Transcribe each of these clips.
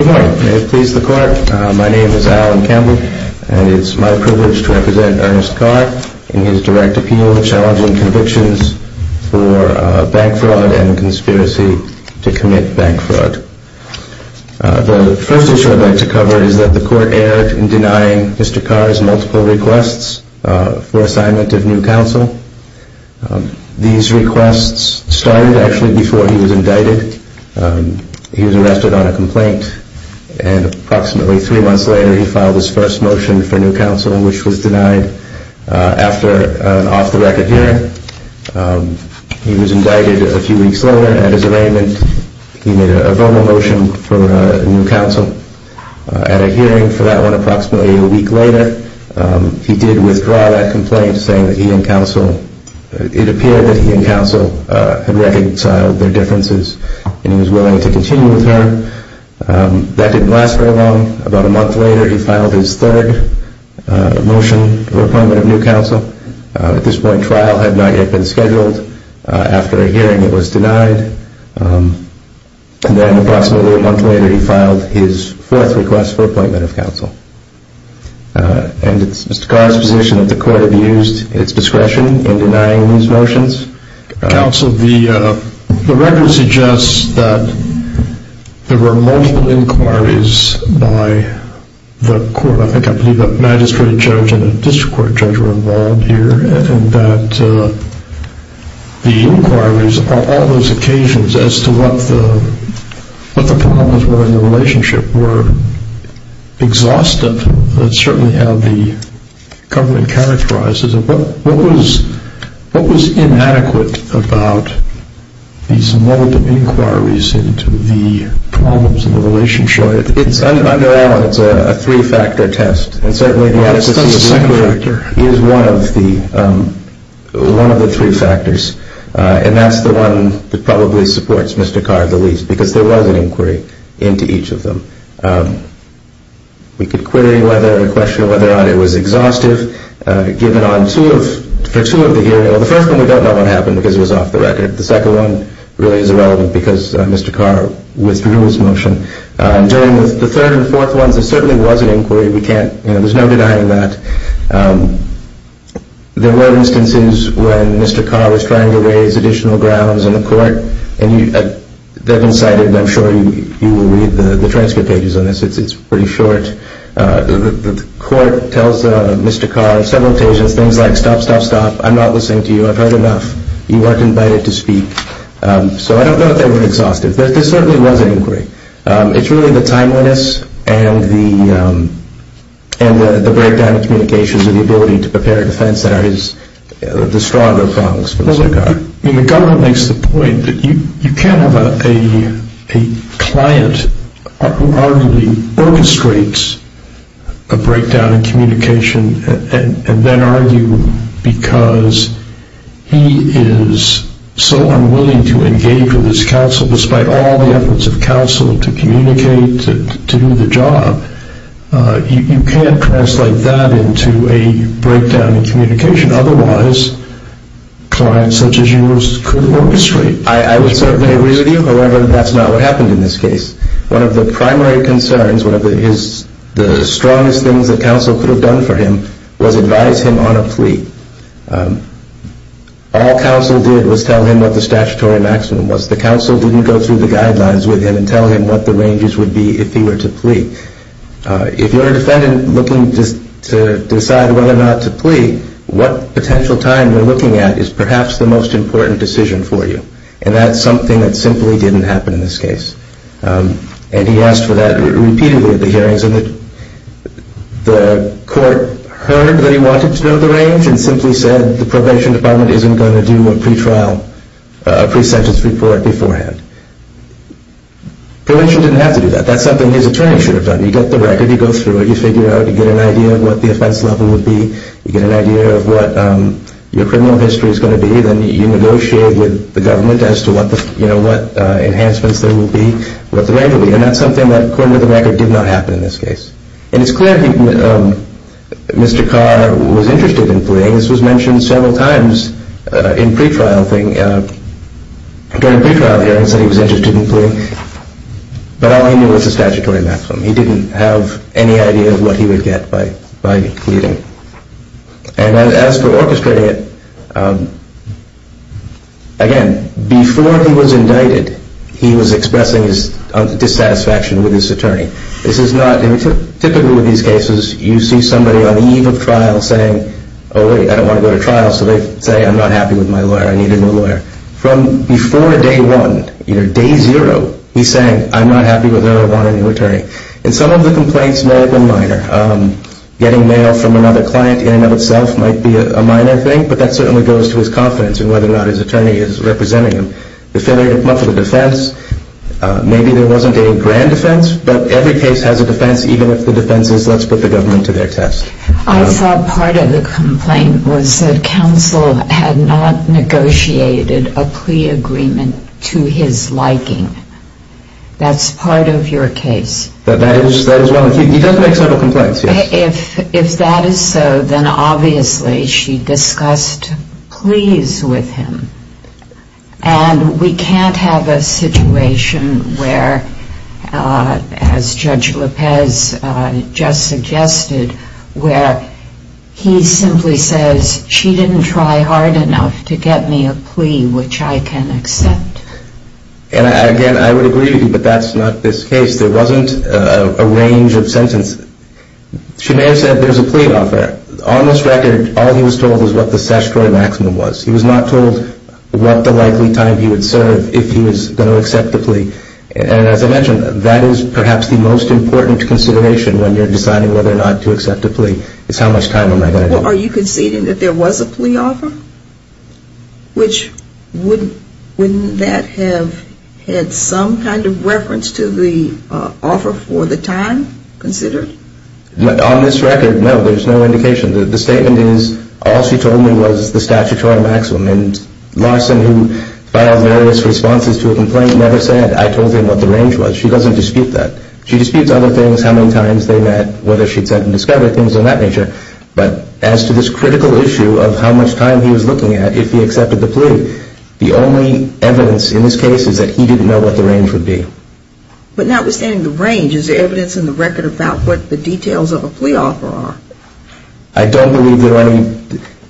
Good morning. May it please the court, my name is Alan Campbell and it's my privilege to represent Ernest Kar in his direct appeal challenging convictions for bank fraud and conspiracy to commit bank fraud. The first issue I'd like to cover is that the court erred in denying Mr. Kar's multiple requests for assignment of new counsel. These requests started actually before he was indicted. He was arrested on a complaint and approximately three months later he filed his first motion for new counsel which was denied after an off-the-record hearing. He was indicted a few weeks later and at his arraignment he made a verbal motion for new counsel. At a hearing for that one approximately a week later he did withdraw that complaint saying that he and counsel, it appeared that he and counsel had reconciled their differences and he was willing to continue with her. That didn't last very long. About a month later he filed his third motion for appointment of new counsel. At this point trial had not yet been scheduled. After a hearing it was denied. Then approximately a month later he filed his fourth request for appointment of counsel. And it's Mr. Kar's position that the court abused its discretion in denying these motions? The record suggests that there were multiple inquiries by the magistrate judge and a district court judge were involved here and that the inquiries on all those occasions as to what the problems were in the relationship were exhaustive. That's certainly how the government characterizes it. What was inadequate about these multiple inquiries into the problems in the relationship? It's a three-factor test and certainly the adequacy of the inquiry is one of the three factors and that's the one that probably supports Mr. Kar the least because there was an inquiry into each of them. We could question whether or not it was exhaustive. The first one we don't know what happened because it was off the record. The second one really is irrelevant because Mr. Kar withdrew his motion. During the third and fourth ones there certainly was an inquiry. There's no denying that. There were instances when Mr. Kar was trying to raise additional grounds in the court. They've been cited and I'm sure you will read the transcript pages on this. It's pretty short. The court tells Mr. Kar several occasions things like stop, stop, stop. I'm not listening to you. I've heard enough. You weren't invited to speak. So I don't know if they were exhaustive but there certainly was an inquiry. It's really the timeliness and the breakdown of communications and the ability to prepare a defense that are the stronger problems for Mr. Kar. The government makes the point that you can't have a client who arguably orchestrates a breakdown in communication and then argue because he is so unwilling to engage with his counsel despite all the efforts of counsel to communicate, to do the job. You can't translate that into a breakdown in communication. Otherwise, clients such as yours could orchestrate. I would certainly agree with you. However, that's not what happened in this case. One of the primary concerns, one of the strongest things that counsel could have done for him was advise him on a plea. All counsel did was tell him what the statutory maximum was. The counsel didn't go through the guidelines with him and tell him what the ranges would be if he were to plea. If you're a defendant looking to decide whether or not to plea, what potential time you're looking at is perhaps the most important decision for you. And that's something that simply didn't happen in this case. And he asked for that repeatedly at the hearings and the court heard that he wanted to know the range and simply said the probation department isn't going to do a pre-trial, a pre-sentence report beforehand. Probation didn't have to do that. That's something his attorney should have done. You get the record, you go through it, you figure out, you get an idea of what the offense level would be, you get an idea of what your criminal history is going to be, then you negotiate with the government as to what enhancements there will be, what the range will be. And that's something that according to the record did not happen in this case. And it's clear that Mr. Carr was interested in pleading. This was mentioned several times in pre-trial hearings that he was interested in pleading. But all he knew was the statutory maximum. He didn't have any idea of what he would get by pleading. And as for orchestrating it, again, before he was indicted, he was expressing his dissatisfaction with his attorney. Typically with these cases, you see somebody on the eve of trial saying, oh, wait, I don't want to go to trial. So they say, I'm not happy with my lawyer. I need a new lawyer. From before day one, day zero, he's saying, I'm not happy with having a new attorney. And some of the complaints may have been minor. Getting mail from another client in and of itself might be a minor thing, but that certainly goes to his confidence in whether or not his attorney is representing him. Affiliated monthly defense, maybe there wasn't a grand defense, but every case has a defense, even if the defense is let's put the government to their test. I thought part of the complaint was that counsel had not negotiated a plea agreement to his liking. That's part of your case. He does make several complaints, yes. And if that is so, then obviously she discussed pleas with him. And we can't have a situation where, as Judge Lopez just suggested, where he simply says, she didn't try hard enough to get me a plea, which I can accept. And again, I would agree with you, but that's not this case. There wasn't a range of sentences. She may have said there's a plea offer. On this record, all he was told was what the statutory maximum was. He was not told what the likely time he would serve if he was going to accept the plea. And as I mentioned, that is perhaps the most important consideration when you're deciding whether or not to accept a plea, is how much time am I going to get. So are you conceding that there was a plea offer? Wouldn't that have had some kind of reference to the offer for the time considered? On this record, no, there's no indication. The statement is, all she told me was the statutory maximum. And Larson, who filed various responses to a complaint, never said, I told him what the range was. She doesn't dispute that. She disputes other things, how many times they met, whether she'd said in discovery, things of that nature. But as to this critical issue of how much time he was looking at if he accepted the plea, the only evidence in this case is that he didn't know what the range would be. But notwithstanding the range, is there evidence in the record about what the details of a plea offer are? I don't believe there are any,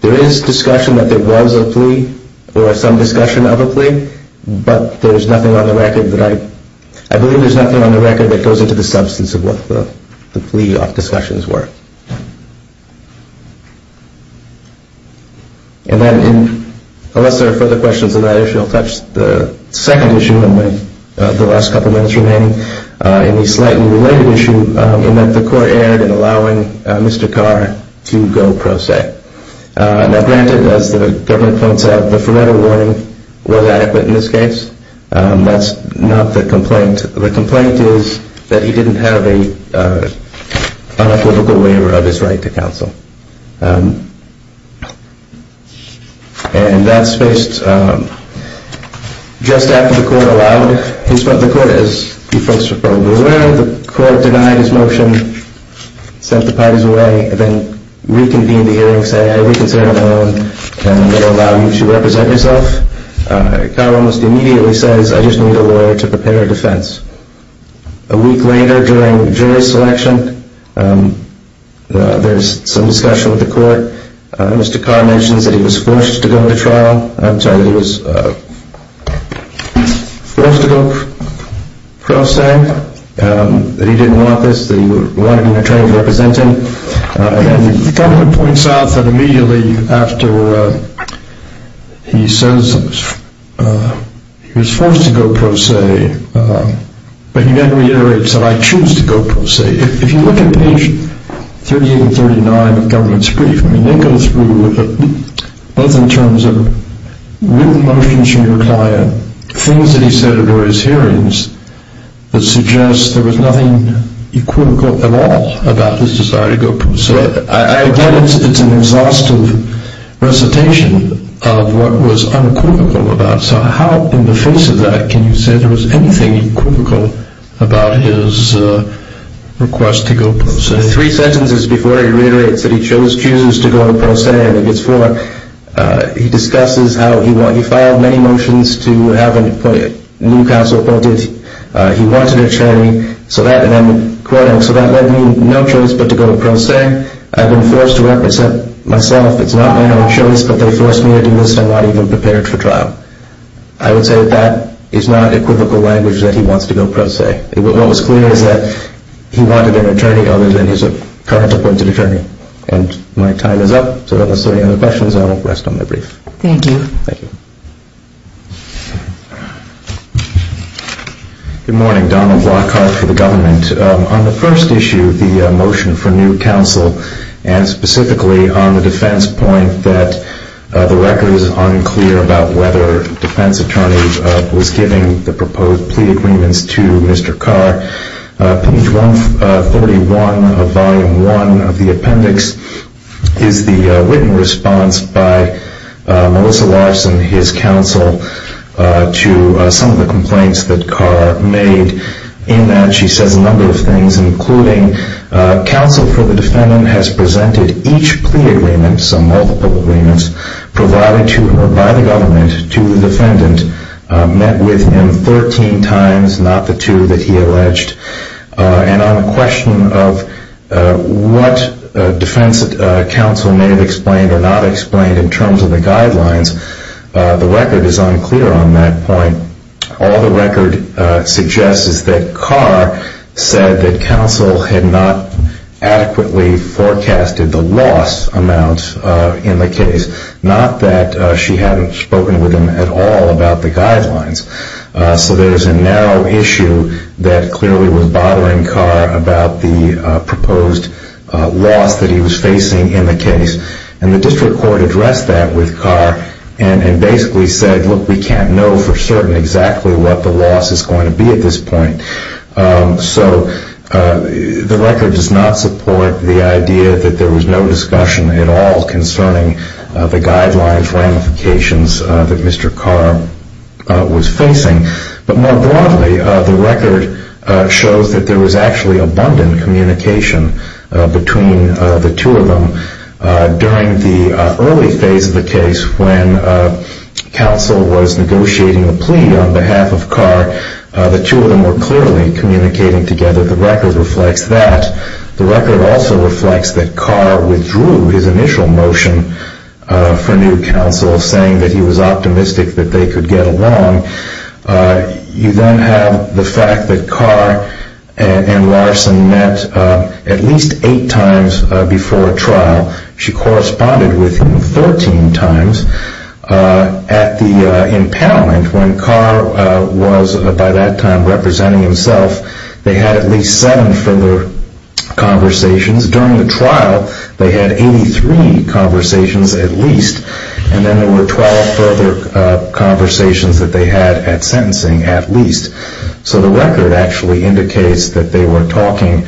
there is discussion that there was a plea or some discussion of a plea, but there's nothing on the record that I, I believe there's nothing on the record that goes into the substance of what the plea discussions were. And then, unless there are further questions on that issue, I'll touch the second issue in the last couple minutes remaining, in the slightly related issue in that the court erred in allowing Mr. Carr to go pro se. And that's not the complaint. The complaint is that he didn't have an unequivocal waiver of his right to counsel. And that's based, just after the court allowed his, the court, as you folks are probably aware, the court denied his motion, sent the parties away, and then reconvened the hearings saying I reconsider my own, and they'll allow you to represent yourself. Mr. Carr almost immediately says I just need a lawyer to prepare a defense. A week later during jury selection, there's some discussion with the court, Mr. Carr mentions that he was forced to go to trial, I'm sorry, that he was forced to go pro se, that he didn't want this, that he wanted an attorney to represent him. And the government points out that immediately after he says he was forced to go pro se, but he then reiterates that I choose to go pro se. If you look at page 38 and 39 of the government's brief, they go through, both in terms of written motions from your client, things that he said during his hearings that suggest there was nothing equivocal at all about his desire to go pro se. So I get it's an exhaustive recitation of what was unequivocal about, so how in the face of that can you say there was anything equivocal about his request to go pro se? So three sentences before he reiterates that he chooses to go pro se, he discusses how he filed many motions to have a new counsel appointed, he wanted an attorney, so that led me no choice but to go pro se, I've been forced to represent myself, it's not my own choice, but they forced me to do this, I'm not even prepared for trial. I would say that that is not equivocal language that he wants to go pro se. What was clear is that he wanted an attorney other than his current appointed attorney. And my time is up, so if there are any other questions, I will rest on my brief. Thank you. Thank you. Good morning, Donald Lockhart for the government. On the first issue, the motion for new counsel, and specifically on the defense point that the record is unclear about whether a defense attorney was giving the proposed plea agreements to Mr. Carr. Page 131 of Volume 1 of the appendix is the written response by Melissa Larson, his counsel, to some of the complaints that Carr made. In that she says a number of things, including counsel for the defendant has presented each plea agreement, some multiple agreements, provided to her by the government, to the defendant, met with him 13 times, not the two that he alleged, and on the question of what defense counsel may have explained or not explained in terms of the guidelines, the record is unclear on that point. All the record suggests is that Carr said that counsel had not adequately forecasted the loss amount in the case, not that she hadn't spoken with him at all about the guidelines. So there's a narrow issue that clearly was bothering Carr about the proposed loss that he was facing in the case. And the district court addressed that with Carr and basically said, look, we can't know for certain exactly what the loss is going to be at this point. So the record does not support the idea that there was no discussion at all concerning the guidelines ramifications that Mr. Carr was facing. But more broadly, the record shows that there was actually abundant communication between the two of them during the early phase of the case when counsel was negotiating a plea on behalf of Carr. The two of them were clearly communicating together. The record reflects that. The record also reflects that Carr withdrew his initial motion for new counsel, saying that he was optimistic that they could get along. You then have the fact that Carr and Larson met at least eight times before trial. She corresponded with him 13 times at the impoundment. When Carr was, by that time, representing himself, they had at least seven further conversations. During the trial, they had 83 conversations at least, and then there were 12 further conversations that they had at sentencing at least. So the record actually indicates that they were talking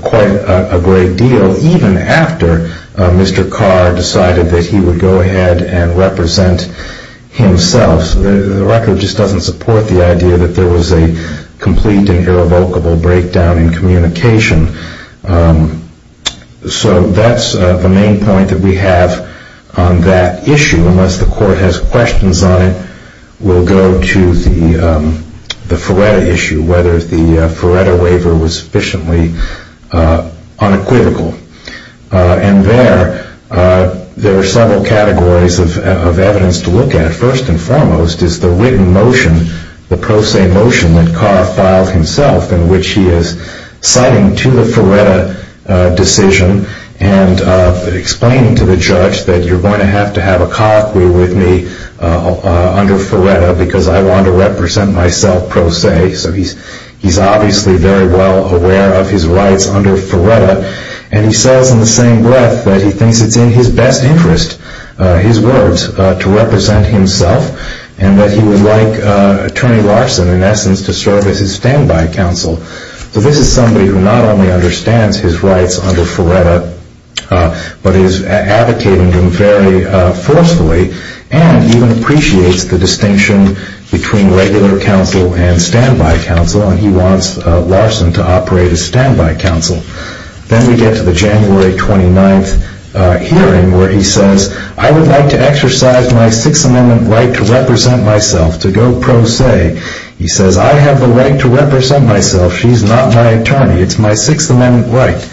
quite a great deal even after Mr. Carr decided that he would go ahead and represent himself. So the record just doesn't support the idea that there was a complete and irrevocable breakdown in communication. So that's the main point that we have on that issue. Unless the Court has questions on it, we'll go to the Feretta issue, whether the Feretta waiver was sufficiently unequivocal. There are several categories of evidence to look at. First and foremost is the written motion, the pro se motion that Carr filed himself in which he is citing to the Feretta decision and explaining to the judge that you're going to have to have a colloquy with me under Feretta because I want to represent myself pro se. So he's obviously very well aware of his rights under Feretta, and he says in the same breath that he thinks it's in his best interest, his words, to represent himself and that he would like Attorney Larson, in essence, to serve as his standby counsel. So this is somebody who not only understands his rights under Feretta but is advocating them very forcefully and even appreciates the distinction between regular counsel and standby counsel, and he wants Larson to operate as standby counsel. Then we get to the January 29th hearing where he says, I would like to exercise my Sixth Amendment right to represent myself, to go pro se. He says, I have the right to represent myself. She's not my attorney. It's my Sixth Amendment right.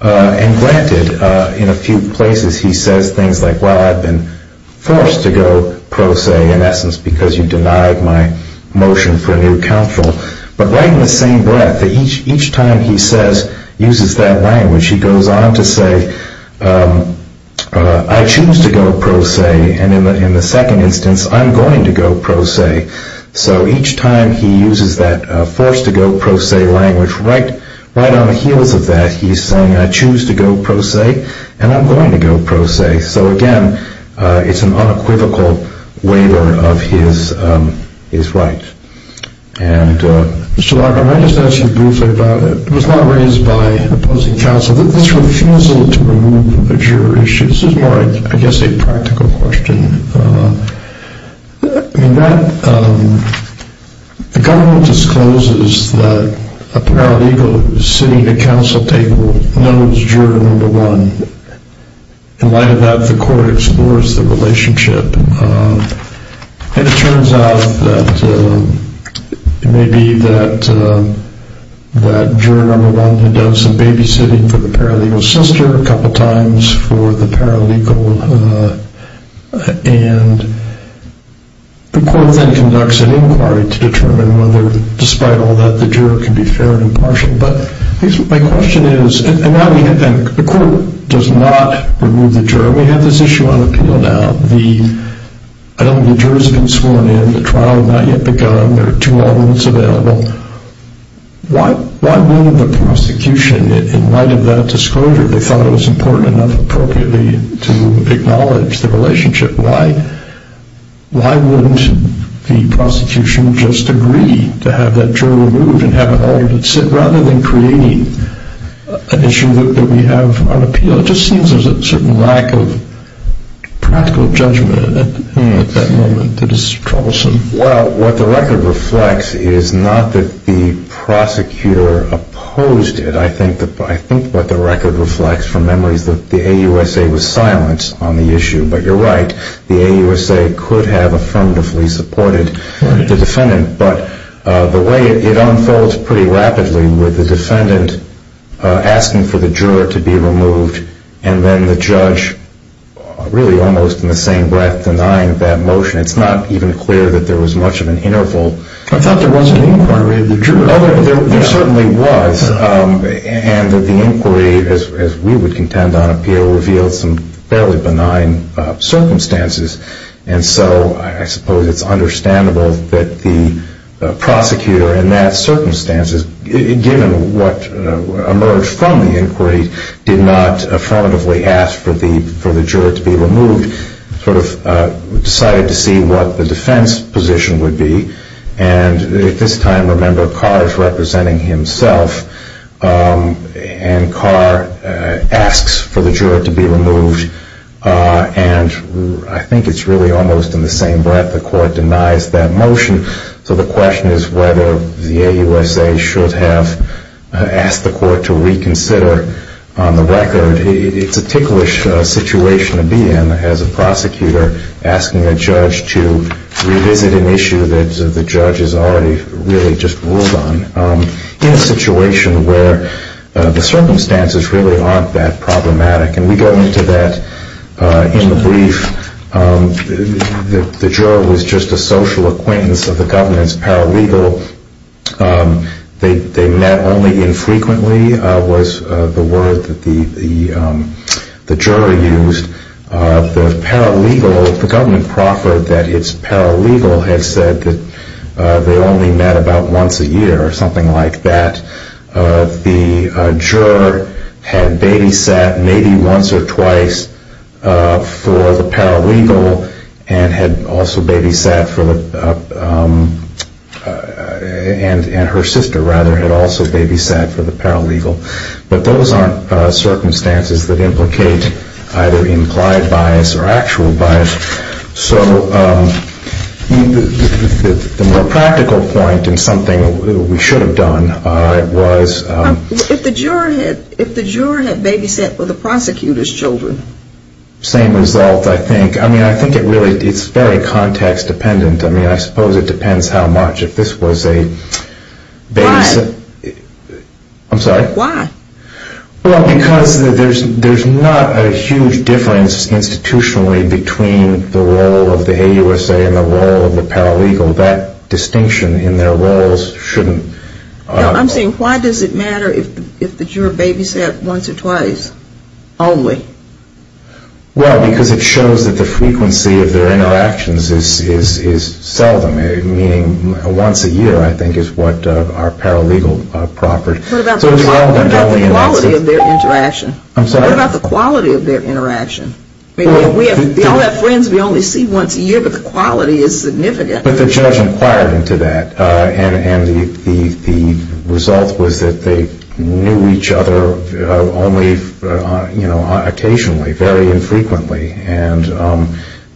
And granted, in a few places he says things like, well, I've been forced to go pro se, in essence, because you denied my motion for new counsel. But right in the same breath, each time he says, uses that language, he goes on to say, I choose to go pro se, and in the second instance, I'm going to go pro se. So each time he uses that forced to go pro se language, right on the heels of that, he's saying, I choose to go pro se, and I'm going to go pro se. So again, it's an unequivocal waiver of his right. And Mr. Larkin, let me just ask you briefly about it. It's not raised by opposing counsel that this refusal to remove a juror issue. This is more, I guess, a practical question. I mean, the government discloses that a paralegal sitting at a counsel table knows juror number one. In light of that, the court explores the relationship. And it turns out that it may be that juror number one had done some babysitting for the paralegal's sister a couple times for the paralegal. And the court then conducts an inquiry to determine whether, despite all that, the juror can be fair and impartial. But my question is, and the court does not remove the juror. So we have this issue on appeal now. I don't know if the jurors have been sworn in. The trial has not yet begun. There are two alternates available. Why wouldn't the prosecution, in light of that disclosure, if they thought it was important enough appropriately to acknowledge the relationship, why wouldn't the prosecution just agree to have that juror removed and have an alternate sit, rather than creating an issue that we have on appeal? So it just seems there's a certain lack of practical judgment at that moment that is troublesome. Well, what the record reflects is not that the prosecutor opposed it. I think what the record reflects from memory is that the AUSA was silent on the issue. But you're right. The AUSA could have affirmatively supported the defendant. But the way it unfolds pretty rapidly with the defendant asking for the juror to be removed and then the judge really almost in the same breath denying that motion, it's not even clear that there was much of an interval. I thought there was an inquiry of the juror. Oh, there certainly was. And the inquiry, as we would contend on appeal, revealed some fairly benign circumstances. And so I suppose it's understandable that the prosecutor in that circumstance, given what emerged from the inquiry, did not affirmatively ask for the juror to be removed, sort of decided to see what the defense position would be. And at this time, remember Carr is representing himself, and Carr asks for the juror to be removed. And I think it's really almost in the same breath the court denies that motion. So the question is whether the AUSA should have asked the court to reconsider on the record. It's a ticklish situation to be in as a prosecutor asking a judge to revisit an issue that the judge has already really just ruled on, in a situation where the circumstances really aren't that problematic. And we go into that in the brief. The juror was just a social acquaintance of the government's paralegal. They met only infrequently was the word that the juror used. The paralegal, the government proffered that its paralegal had said that they only met about once a year or something like that. The juror had babysat maybe once or twice for the paralegal and had also babysat for the, and her sister rather had also babysat for the paralegal. But those aren't circumstances that implicate either implied bias or actual bias. So the more practical point and something we should have done was. If the juror had babysat for the prosecutor's children. Same result I think. I mean I think it really, it's very context dependent. I mean I suppose it depends how much if this was a. Why? I'm sorry. Why? Well because there's not a huge difference institutionally between the role of the AUSA and the role of the paralegal. That distinction in their roles shouldn't. I'm saying why does it matter if the juror babysat once or twice only? Well because it shows that the frequency of their interactions is seldom. Meaning once a year I think is what our paralegal proffered. What about the quality of their interaction? I'm sorry. What about the quality of their interaction? I mean we all have friends we only see once a year but the quality is significant. But the judge inquired into that. And the result was that they knew each other only you know occasionally, very infrequently. And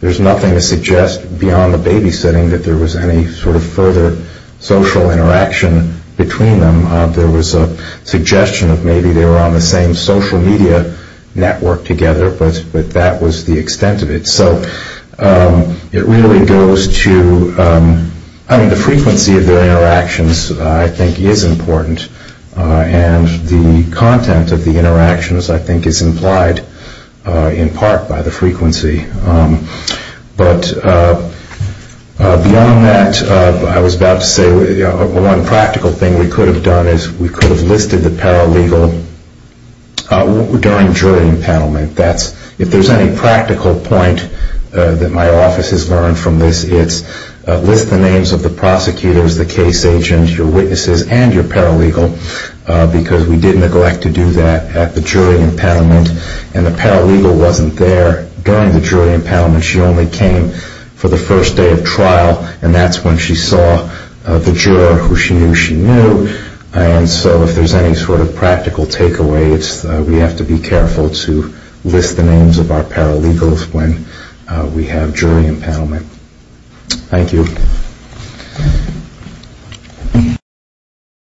there's nothing to suggest beyond the babysitting that there was any sort of further social interaction between them. There was a suggestion of maybe they were on the same social media network together. But that was the extent of it. So it really goes to I mean the frequency of their interactions I think is important. And the content of the interactions I think is implied in part by the frequency. But beyond that I was about to say one practical thing we could have done is we could have listed the paralegal during jury impoundment. If there's any practical point that my office has learned from this it's list the names of the prosecutors, the case agents, your witnesses and your paralegal because we did neglect to do that at the jury impoundment. And the paralegal wasn't there during the jury impoundment. She only came for the first day of trial and that's when she saw the juror who she knew she knew. And so if there's any sort of practical takeaways we have to be careful to list the names of our paralegals when we have jury impoundment. Thank you.